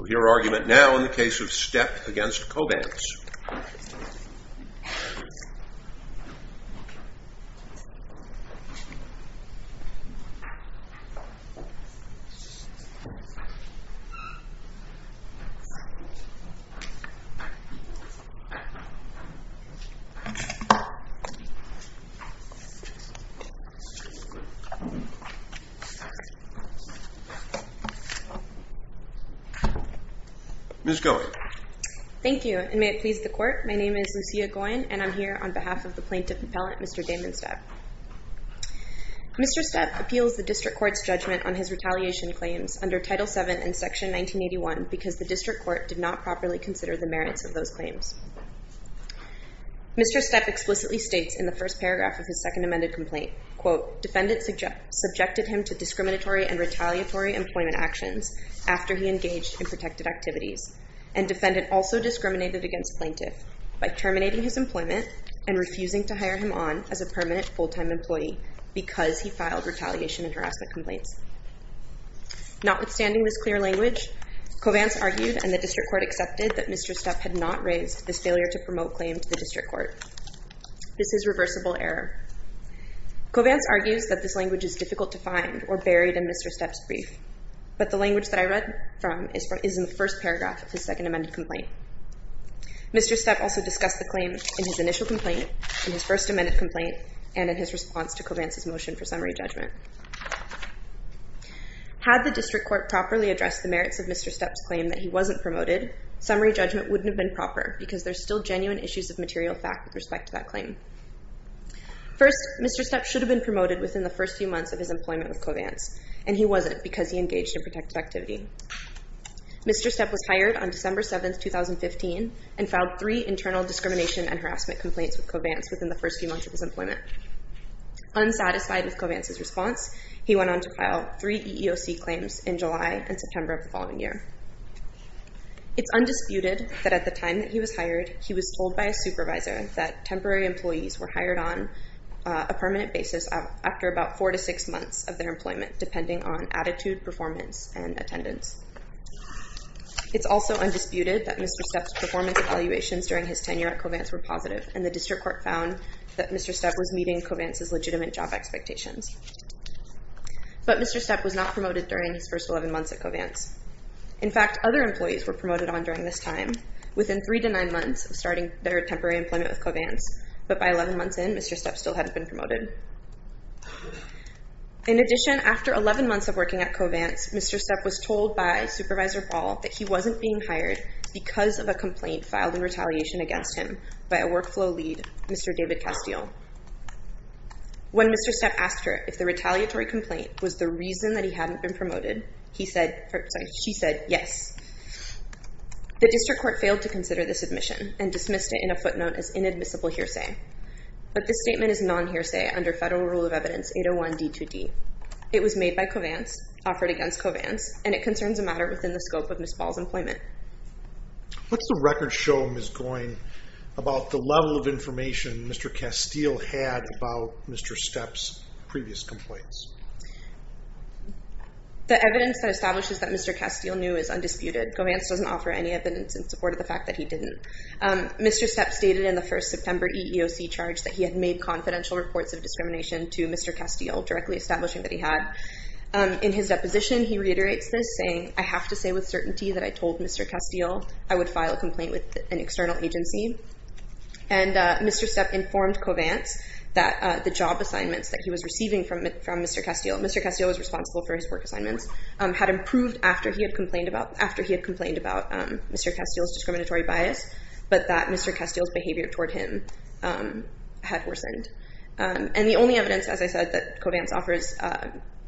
We'll hear argument now in the case of Stepp v. Covance. Ms. Goyen. Thank you, and may it please the court, my name is Lucia Goyen, and I'm here on behalf of the plaintiff appellant, Mr. Damon Stepp. Mr. Stepp appeals the district court's judgment on his retaliation claims under Title VII and Section 1981 because the district court did not properly consider the merits of those claims. Mr. Stepp explicitly states in the first paragraph of his second amended complaint, quote, defendant subjected him to discriminatory and retaliatory employment actions after he engaged in protected activities, and defendant also discriminated against plaintiff by terminating his employment and refusing to hire him on as a permanent full-time employee because he filed retaliation and harassment complaints. Notwithstanding this clear language, Covance argued and the district court accepted that Mr. Stepp had not raised this failure to promote claim to the district court. This is reversible error. Covance argues that this language is difficult to find or buried in Mr. Stepp's brief, but the language that I read from is in the first paragraph of his second amended complaint. Mr. Stepp also discussed the claim in his initial complaint, in his first amended complaint, and in his response to Covance's motion for summary judgment. Had the district court properly addressed the merits of Mr. Stepp's claim that he wasn't promoted, summary judgment wouldn't have been proper because there's still genuine issues of material fact with respect to that claim. First, Mr. Stepp should have been promoted within the first few months of his employment with Covance, and he wasn't because he engaged in protected activity. Mr. Stepp was hired on December 7, 2015, and filed three internal discrimination and harassment complaints with Covance within the first few months of his employment. Unsatisfied with Covance's response, he went on to file three EEOC claims in July and September of the following year. It's undisputed that at the time that he was hired, he was told by a supervisor that temporary employees were hired on a permanent basis after about four to six months of their employment, depending on attitude, performance, and attendance. It's also undisputed that Mr. Stepp's performance evaluations during his tenure at Covance were positive, and the district court found that Mr. Stepp was meeting Covance's legitimate job expectations. But Mr. Stepp was not promoted during his first 11 months at Covance. In fact, other employees were promoted on during this time, within three to nine months of starting their temporary employment with Covance, but by 11 months in, Mr. Stepp still hadn't been promoted. In addition, after 11 months of working at Covance, Mr. Stepp was told by Supervisor Ball that he wasn't being hired because of a complaint filed in retaliation against him by a workflow lead, Mr. David Castile. When Mr. Stepp asked her if the retaliatory complaint was the reason that he hadn't been promoted, he said, sorry, she said, yes. The district court failed to consider this admission and dismissed it in a footnote as inadmissible hearsay. But this statement is non-hearsay under federal rule of evidence 801D2D. It was made by Covance, offered against Covance, and it concerns a matter within the scope of Ms. Ball's employment. What's the record show, Ms. Goyne, about the level of information Mr. Castile had about Mr. Stepp's previous complaints? The evidence that establishes that Mr. Castile knew is undisputed. Covance doesn't offer any evidence in support of the fact that he didn't. Mr. Stepp stated in the first September EEOC charge that he had made confidential reports of discrimination to Mr. Castile, directly establishing that he had. In his deposition, he reiterates this, saying, I have to say with certainty that I told Mr. Castile I would file a complaint with an external agency. And Mr. Stepp informed Covance that the job assignments that he was receiving from Mr. Castile, Mr. Castile was responsible for his work assignments, had improved after he had complained about Mr. Castile's discriminatory bias, but that Mr. Castile's behavior toward him had worsened. And the only evidence, as I said, that Covance offers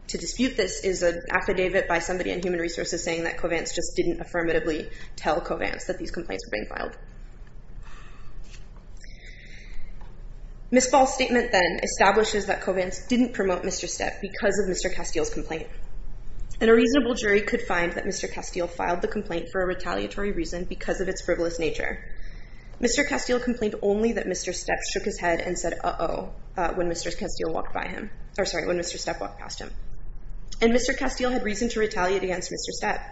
to dispute this is an affidavit by somebody in Human Resources saying that Covance just didn't affirmatively tell Covance that these complaints were being filed. Ms. Ball's statement then establishes that Covance didn't promote Mr. Stepp because of Mr. Castile's complaint. And a reasonable jury could find that Mr. Castile filed the complaint for a retaliatory reason because of its frivolous nature. Mr. Castile complained only that Mr. Stepp shook his head and said, uh-oh, when Mr. Castile walked by him, or sorry, when Mr. Stepp walked past him. And Mr. Castile had reason to retaliate against Mr. Stepp.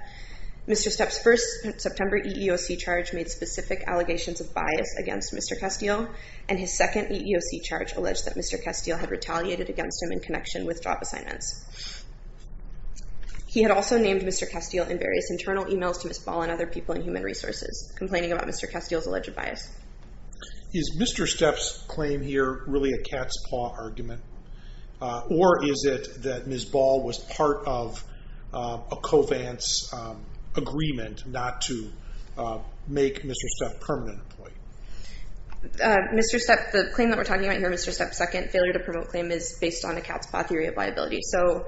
Mr. Stepp's first September EEOC charge made specific allegations of bias against Mr. Castile, and his second EEOC charge alleged that Mr. Castile had retaliated against him in connection with job assignments. He had also named Mr. Castile in various internal emails to Ms. Ball and other people in Human Resources, complaining about Mr. Castile's alleged bias. Is Mr. Stepp's claim here really a cat's paw argument? Or is it that Ms. Ball was part of a Covance agreement not to make Mr. Stepp a permanent employee? Mr. Stepp, the claim that we're talking about here, Mr. Stepp's second failure to promote claim is based on a cat's paw theory of liability. So,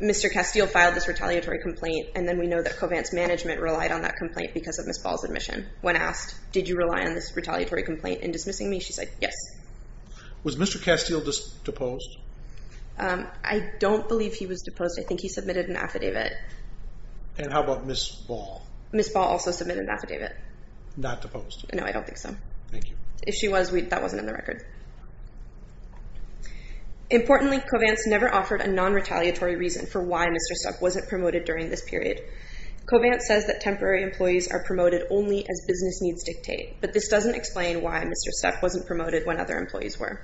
Mr. Castile filed this retaliatory complaint, and then we know that Covance management relied on that complaint because of Ms. Ball's admission. When asked, did you rely on this retaliatory complaint in dismissing me, she said, yes. Was Mr. Castile deposed? I don't believe he was deposed. I think he submitted an affidavit. And how about Ms. Ball? Ms. Ball also submitted an affidavit. Not deposed? No, I don't think so. Thank you. If she was, that wasn't in the record. Importantly, Covance never offered a non-retaliatory reason for why Mr. Stepp wasn't promoted during this period. Covance says that temporary employees are promoted only as business needs dictate, but this doesn't explain why Mr. Stepp wasn't promoted when other employees were.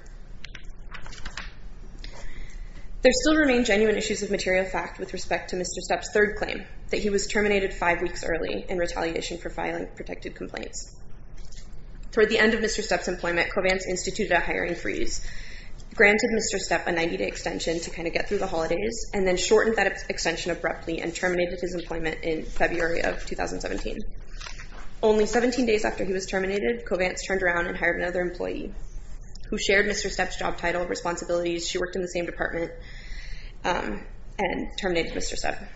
There still remain genuine issues of material fact with respect to Mr. Stepp's third claim, that he was terminated five weeks early in retaliation for filing protected complaints. Toward the end of Mr. Stepp's employment, Covance instituted a hiring freeze, granted Mr. Stepp a 90-day extension to kind of get through the holidays, and then shortened that extension abruptly and terminated his employment in February of 2017. Only 17 days after he was terminated, Covance turned around and hired another employee who shared Mr. Stepp's job title and responsibilities. She worked in the same department and terminated Mr. Stepp.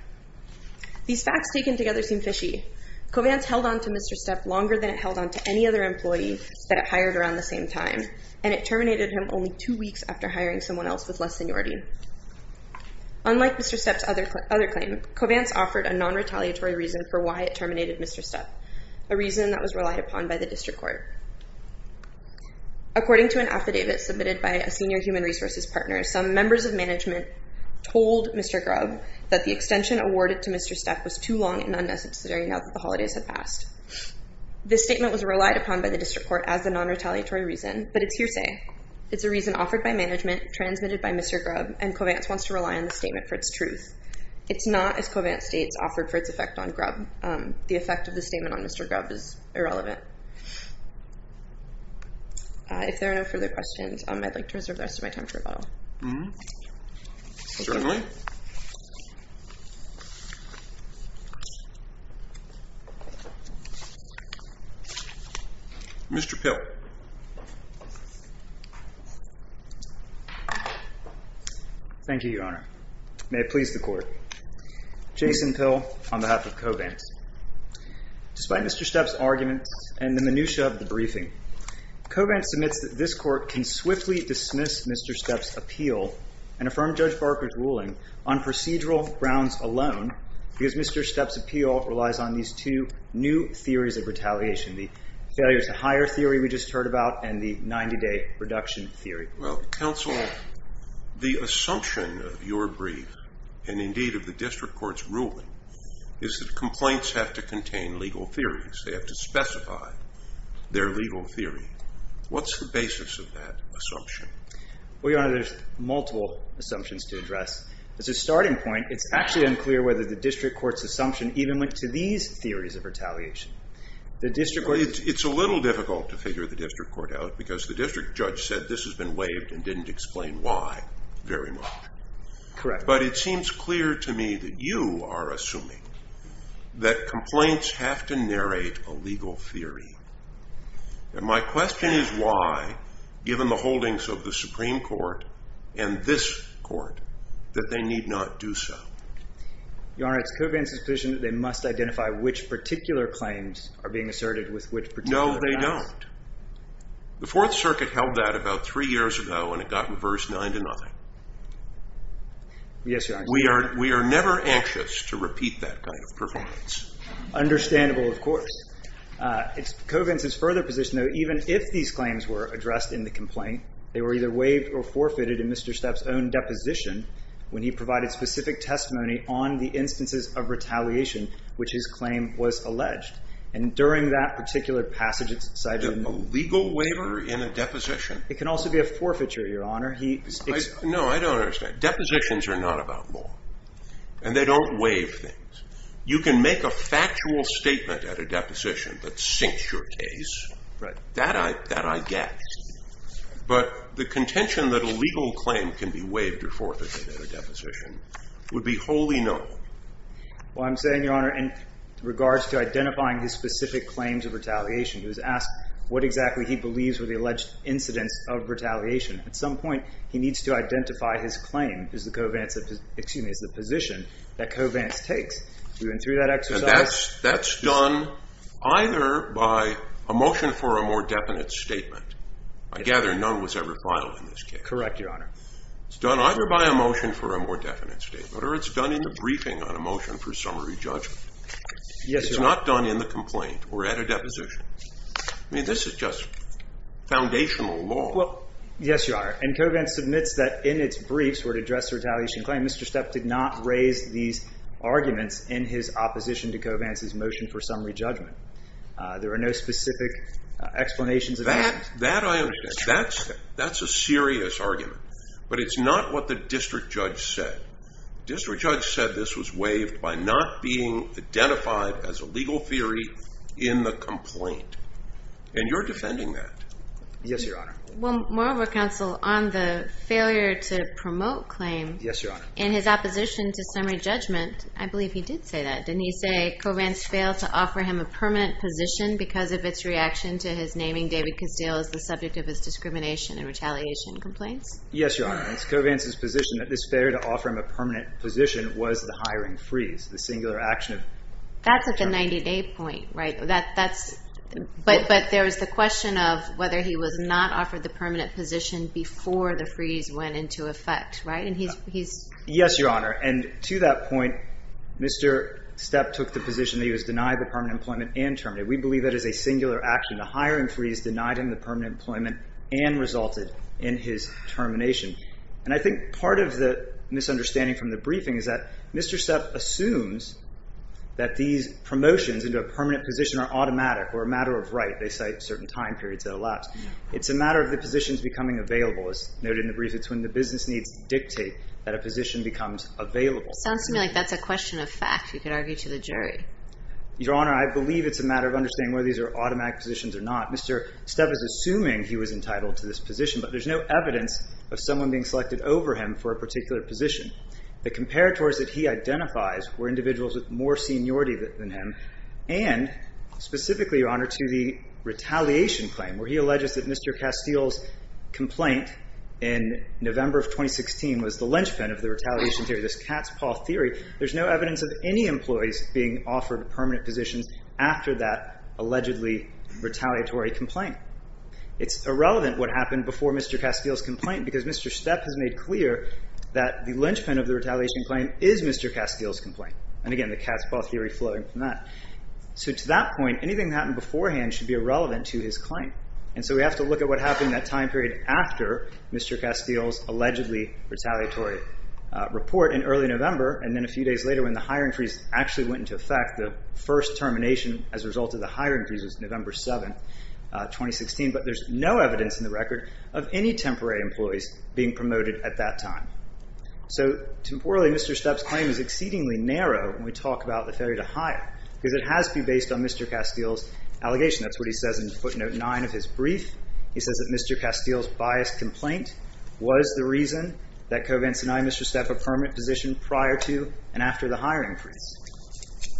These facts taken together seem fishy. Covance held on to Mr. Stepp longer than it held on to any other employee that it hired around the same time, and it terminated him only two weeks after hiring someone else with less seniority. Unlike Mr. Stepp's other claim, Covance offered a non-retaliatory reason for why it terminated Mr. Stepp, a reason that was relied upon by the district court. According to an affidavit submitted by a senior human resources partner, some members of management told Mr. Grubb that the extension awarded to Mr. Stepp was too long and unnecessary now that the holidays had passed. This statement was relied upon by the district court as a non-retaliatory reason, but it's hearsay. It's a reason offered by management, transmitted by Mr. Grubb, and Covance wants to rely on the statement for its truth. It's not, as Covance states, offered for its effect on Grubb. The effect of the statement on Mr. Grubb is irrelevant. If there are no further questions, I'd like to reserve the rest of my time for rebuttal. Mm-hmm. Attorney. Mr. Pill. Thank you, Your Honor. May it please the court. Jason Pill on behalf of Covance. Despite Mr. Stepp's argument and the minutia of the briefing, Covance submits that this court can swiftly dismiss Mr. Stepp's appeal and affirm Judge Barker's ruling on procedural grounds alone because Mr. Stepp's appeal relies on these two new theories of retaliation, the failure-to-hire theory we just heard about and the 90-day reduction theory. Well, counsel, the assumption of your brief and indeed of the district court's ruling is that complaints have to contain legal theories. They have to specify their legal theory. What's the basis of that assumption? Well, Your Honor, there's multiple assumptions to address. As a starting point, it's actually unclear whether the district court's assumption even went to these theories of retaliation. It's a little difficult to figure the district court out because the district judge said this has been waived and didn't explain why very much. Correct. But it seems clear to me that you are assuming that complaints have to narrate a legal theory. And my question is why, given the holdings of the Supreme Court and this court, that they need not do so. Your Honor, it's Covance's position that they must identify which particular claims are being asserted with which particular facts. No, they don't. The Fourth Circuit held that about three years ago and it got reversed nine to nothing. Yes, Your Honor. We are never anxious to repeat that kind of performance. Understandable, of course. It's Covance's further position, though, even if these claims were addressed in the complaint, they were either waived or forfeited in Mr. Stepp's own deposition when he provided specific testimony on the instances of retaliation which his claim was alleged. And during that particular passage, it's cited in the rule. A legal waiver in a deposition? It can also be a forfeiture, Your Honor. No, I don't understand. Depositions are not about law. And they don't waive things. You can make a factual statement at a deposition that sinks your case. That I get. But the contention that a legal claim can be waived or forfeited at a deposition would be wholly known. Well, I'm saying, Your Honor, in regards to identifying his specific claims of retaliation, he was asked what exactly he believes were the alleged incidents of retaliation. At some point, he needs to identify his claim as the Covance, excuse me, as the position that Covance takes. We went through that exercise. And that's done either by a motion for a more definite statement. I gather none was ever filed in this case. Correct, Your Honor. It's done either by a motion for a more definite statement or it's done in the briefing on a motion for summary judgment. Yes, Your Honor. It's not done in the complaint or at a deposition. I mean, this is just foundational law. Yes, Your Honor. And Covance submits that in its briefs where it addressed the retaliation claim, Mr. Stepp did not raise these arguments in his opposition to Covance's motion for summary judgment. There are no specific explanations. That I understand. That's a serious argument. But it's not what the district judge said. District judge said this was waived by not being identified as a legal theory in the complaint. And you're defending that. Yes, Your Honor. Well, moreover, Counsel, on the failure to promote claims. Yes, Your Honor. In his opposition to summary judgment, I believe he did say that. Didn't he say Covance failed to offer him a permanent position because of its reaction to his naming David Castile as the subject of his discrimination and retaliation complaints? Yes, Your Honor. It's Covance's position that this failure to offer him a permanent position was the hiring freeze, the singular action of... That's at the 90-day point, right? That's... But there was the question of whether he was not offered the permanent position before the freeze went into effect, right? And he's... Yes, Your Honor. And to that point, Mr. Stepp took the position that he was denied the permanent employment and terminated. We believe that is a singular action. The hiring freeze denied him the permanent employment and resulted in his termination. And I think part of the misunderstanding from the briefing is that Mr. Stepp assumes that these promotions into a permanent position are automatic or a matter of right. They cite certain time periods that elapse. It's a matter of the positions becoming available. As noted in the brief, it's when the business needs dictate that a position becomes available. Sounds to me like that's a question of fact. You could argue to the jury. Your Honor, I believe it's a matter of understanding whether these are automatic positions or not. Mr. Stepp is assuming he was entitled to this position, but there's no evidence of someone being selected over him for a particular position. The comparators that he identifies were individuals with more seniority than him, and specifically, Your Honor, to the retaliation claim, where he alleges that Mr. Castile's complaint in November of 2016 was the linchpin of the retaliation theory, this cat's paw theory. There's no evidence of any employees being offered permanent positions after that allegedly retaliatory complaint. It's irrelevant what happened before Mr. Castile's complaint because Mr. Stepp has made clear that the linchpin of the retaliation claim is Mr. Castile's complaint. Again, the cat's paw theory flowing from that. To that point, anything that happened beforehand should be irrelevant to his claim. We have to look at what happened in that time period after Mr. Castile's allegedly retaliatory report in early November, and then a few days later when the hiring freeze actually went into effect. The first termination as a result of the hiring freeze was November 7, 2016, but there's no evidence in the record of any temporary employees being promoted at that time. So, temporarily, Mr. Stepp's claim is exceedingly narrow when we talk about the failure to hire because it has to be based on Mr. Castile's allegation. That's what he says in footnote 9 of his brief. He says that Mr. Castile's biased complaint was the reason that Covance and I made Mr. Stepp a permanent position prior to and after the hiring freeze.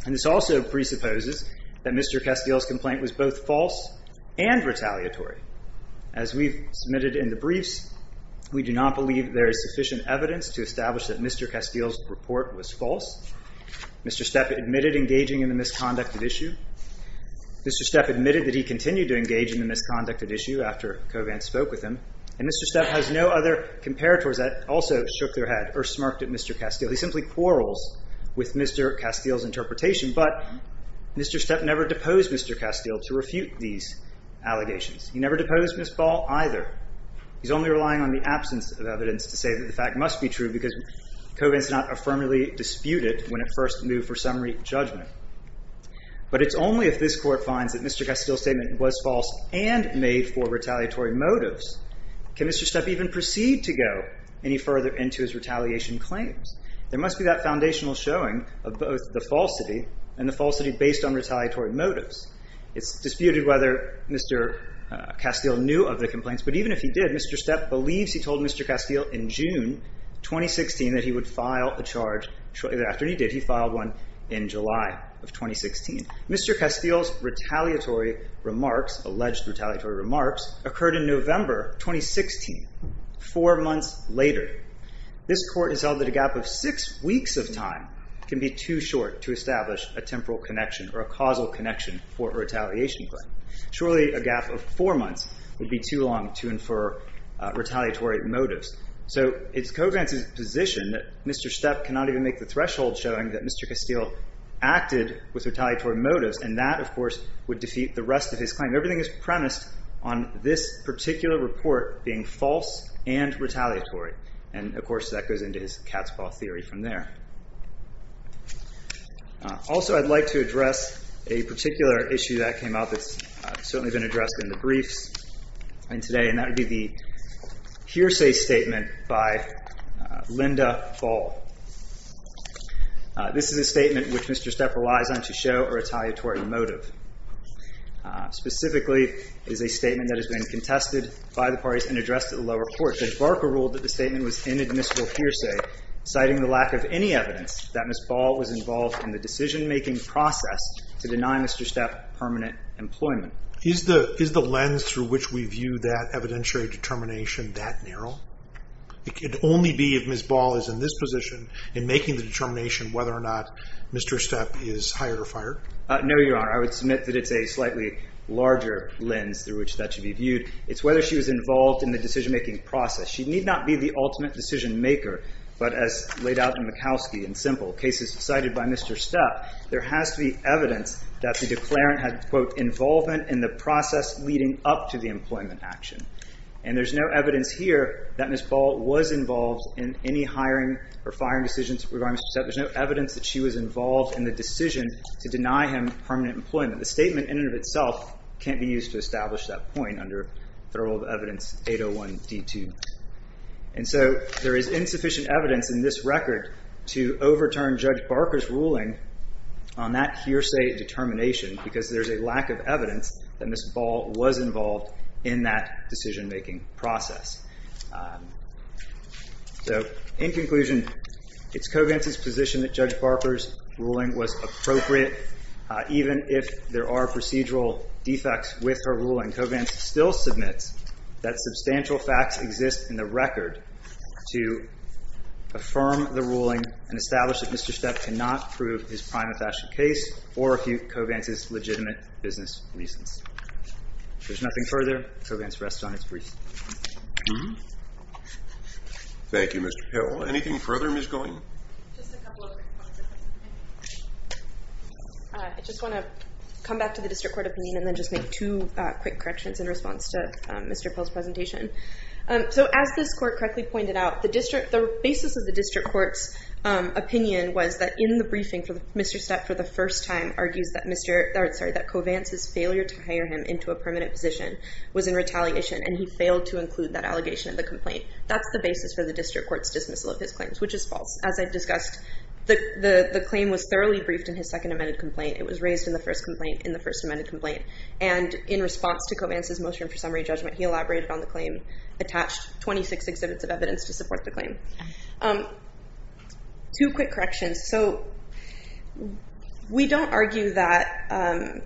And this also presupposes that Mr. Castile's complaint was both false and retaliatory. As we've submitted in the briefs, we do not believe there is sufficient evidence to establish that Mr. Castile's report was false. Mr. Stepp admitted engaging in the misconducted issue. Mr. Stepp admitted that he continued to engage in the misconducted issue after Covance spoke with him. And Mr. Stepp has no other comparators that also shook their head or smirked at Mr. Castile. He simply quarrels with Mr. Castile's interpretation, but Mr. Stepp never deposed Mr. Castile to refute these allegations. He never deposed Ms. Ball either. He's only relying on the absence of evidence to say that the fact must be true because Covance did not affirmatively dispute it when it first moved for summary judgment. But it's only if this Court finds that Mr. Castile's statement was false and made for retaliatory motives can Mr. Stepp even proceed to go any further into his retaliation claims. There must be that foundational showing of both the falsity and the falsity based on retaliatory motives. It's disputed whether Mr. Castile knew of the complaints, but even if he did, Mr. Stepp believes he told Mr. Castile in June 2016 that he would file a charge shortly thereafter. And he did. He filed one in July of 2016. Mr. Castile's retaliatory remarks, alleged retaliatory remarks, occurred in November 2016, four months later. This Court has held that a gap of six weeks of time can be too short to establish a temporal connection or a causal connection for a retaliation claim. Surely a gap of four months would be too long to infer retaliatory motives. So it's Covance's position that Mr. Stepp cannot even make the threshold showing that Mr. Castile acted with retaliatory motives, and that, of course, would defeat the rest of his claim. Everything is premised on this particular report being false and retaliatory. And, of course, that goes into his cat's paw theory from there. Also, I'd like to address a particular issue that came up that's certainly been addressed in the briefs and today, and that would be the hearsay statement by Linda Ball. This is a statement which Mr. Stepp relies on to show a retaliatory motive. Specifically, it is a statement that has been contested by the parties and addressed at the lower court. Judge Barker ruled that the statement was inadmissible hearsay, citing the lack of any evidence that Ms. Ball was involved in the decision-making process to deny Mr. Stepp permanent employment. Is the lens through which we view that evidentiary determination that narrow? It could only be if Ms. Ball is in this position in making the determination whether or not Mr. Stepp is hired or fired? No, Your Honor. I would submit that it's a slightly larger lens through which that should be viewed. It's whether she was involved in the decision-making process. She need not be the ultimate decision-maker, but as laid out in Mikowski in simple cases cited by Mr. Stepp, there has to be evidence that the declarant had, quote, involvement in the process leading up to the employment action. And there's no evidence here that Ms. Ball was involved in any hiring or firing decisions regarding Mr. Stepp. There's no evidence that she was involved in the decision to deny him permanent employment. The statement in and of itself can't be used to establish that point under the rule of evidence 801D2. And so there is insufficient evidence in this record to overturn Judge Barker's ruling on that hearsay determination because there's a lack of evidence that Ms. Ball was involved in that decision-making process. So in conclusion, it's Covance's position that Judge Barker's ruling was appropriate even if there are procedural defects with her ruling. Covance still submits that substantial facts exist in the record to affirm the ruling and establish that Mr. Stepp cannot prove his prima facie case or refute Covance's legitimate business reasons. There's nothing further. Covance rests on its briefs. Thank you, Mr. Peril. Anything further, Ms. Goyne? I just want to come back to the District Court opinion and then just make two quick corrections in response to Mr. Peril's presentation. So as this court correctly pointed out, the basis of the District Court's opinion was that in the briefing, Mr. Stepp for the first time argues that Covance's failure to hire him into a permanent position was in retaliation and he failed to include that allegation in the complaint. That's the basis for the District Court's dismissal of his claims, which is false. As I discussed, the claim was thoroughly briefed in his second amended complaint. It was raised in the first amendment complaint. And in response to Covance's motion for summary judgment, he elaborated on the claim, attached 26 exhibits of evidence to support the claim. Two quick corrections. So we don't argue that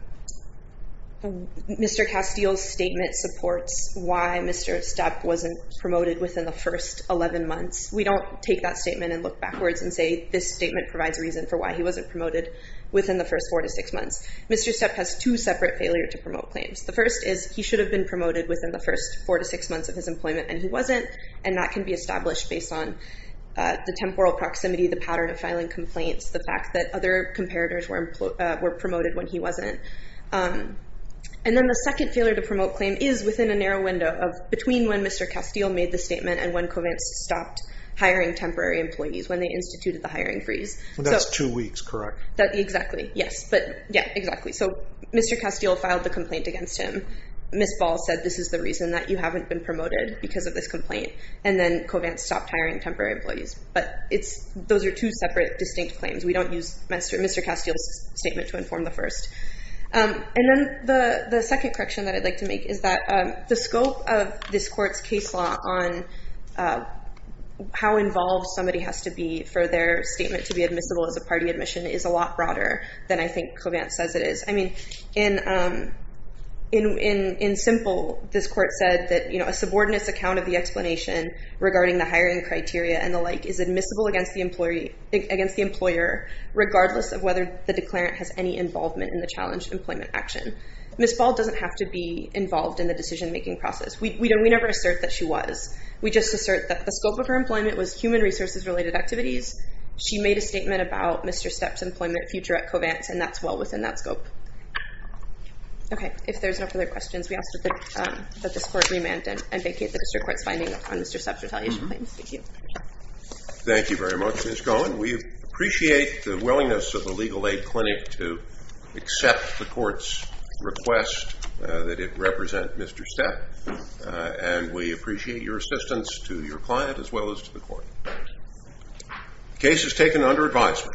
Mr. Castile's statement supports why Mr. Stepp wasn't promoted within the first 11 months. We don't take that statement and look backwards and say this statement provides reason for why he wasn't promoted within the first 14 months. Mr. Stepp has two separate failure to promote claims. The first is he should have been promoted within the first four to six months of his employment and he wasn't, and that can be established based on the temporal proximity, the pattern of filing complaints, the fact that other comparators were promoted when he wasn't. And then the second failure to promote claim is within a narrow window of between when Mr. Castile made the statement and when Covance stopped hiring temporary employees, when they instituted the hiring freeze. That's two weeks, correct? Exactly, yes. Yeah, exactly. So Mr. Castile filed the complaint against him. Ms. Ball said this is the reason that you haven't been promoted because of this complaint. And then Covance stopped hiring temporary employees. But those are two separate distinct claims. We don't use Mr. Castile's statement to inform the first. And then the second correction that I'd like to make is that the scope of this court's case law on how involved somebody has to be for their statement to be admissible is a lot broader than I think Covance says it is. I mean, in simple, this court said that, you know, a subordinates account of the explanation regarding the hiring criteria and the like is admissible against the employer regardless of whether the declarant has any involvement in the challenged employment action. Ms. Ball doesn't have to be involved in the decision-making process. We never assert that she was. We just assert that the scope of her employment was human resources-related activities. She made a statement about Mr. Stepp's employment future at Covance, and that's well within that scope. Okay. If there's no further questions, we ask that this court remand and vacate the district court's finding on Mr. Stepp's retaliation claims. Thank you. Thank you very much, Ms. Cohen. We appreciate the willingness of the Legal Aid Clinic to accept the court's request that it represent Mr. Stepp. And we appreciate your assistance to your client as well as to the court. The case is taken under advisement.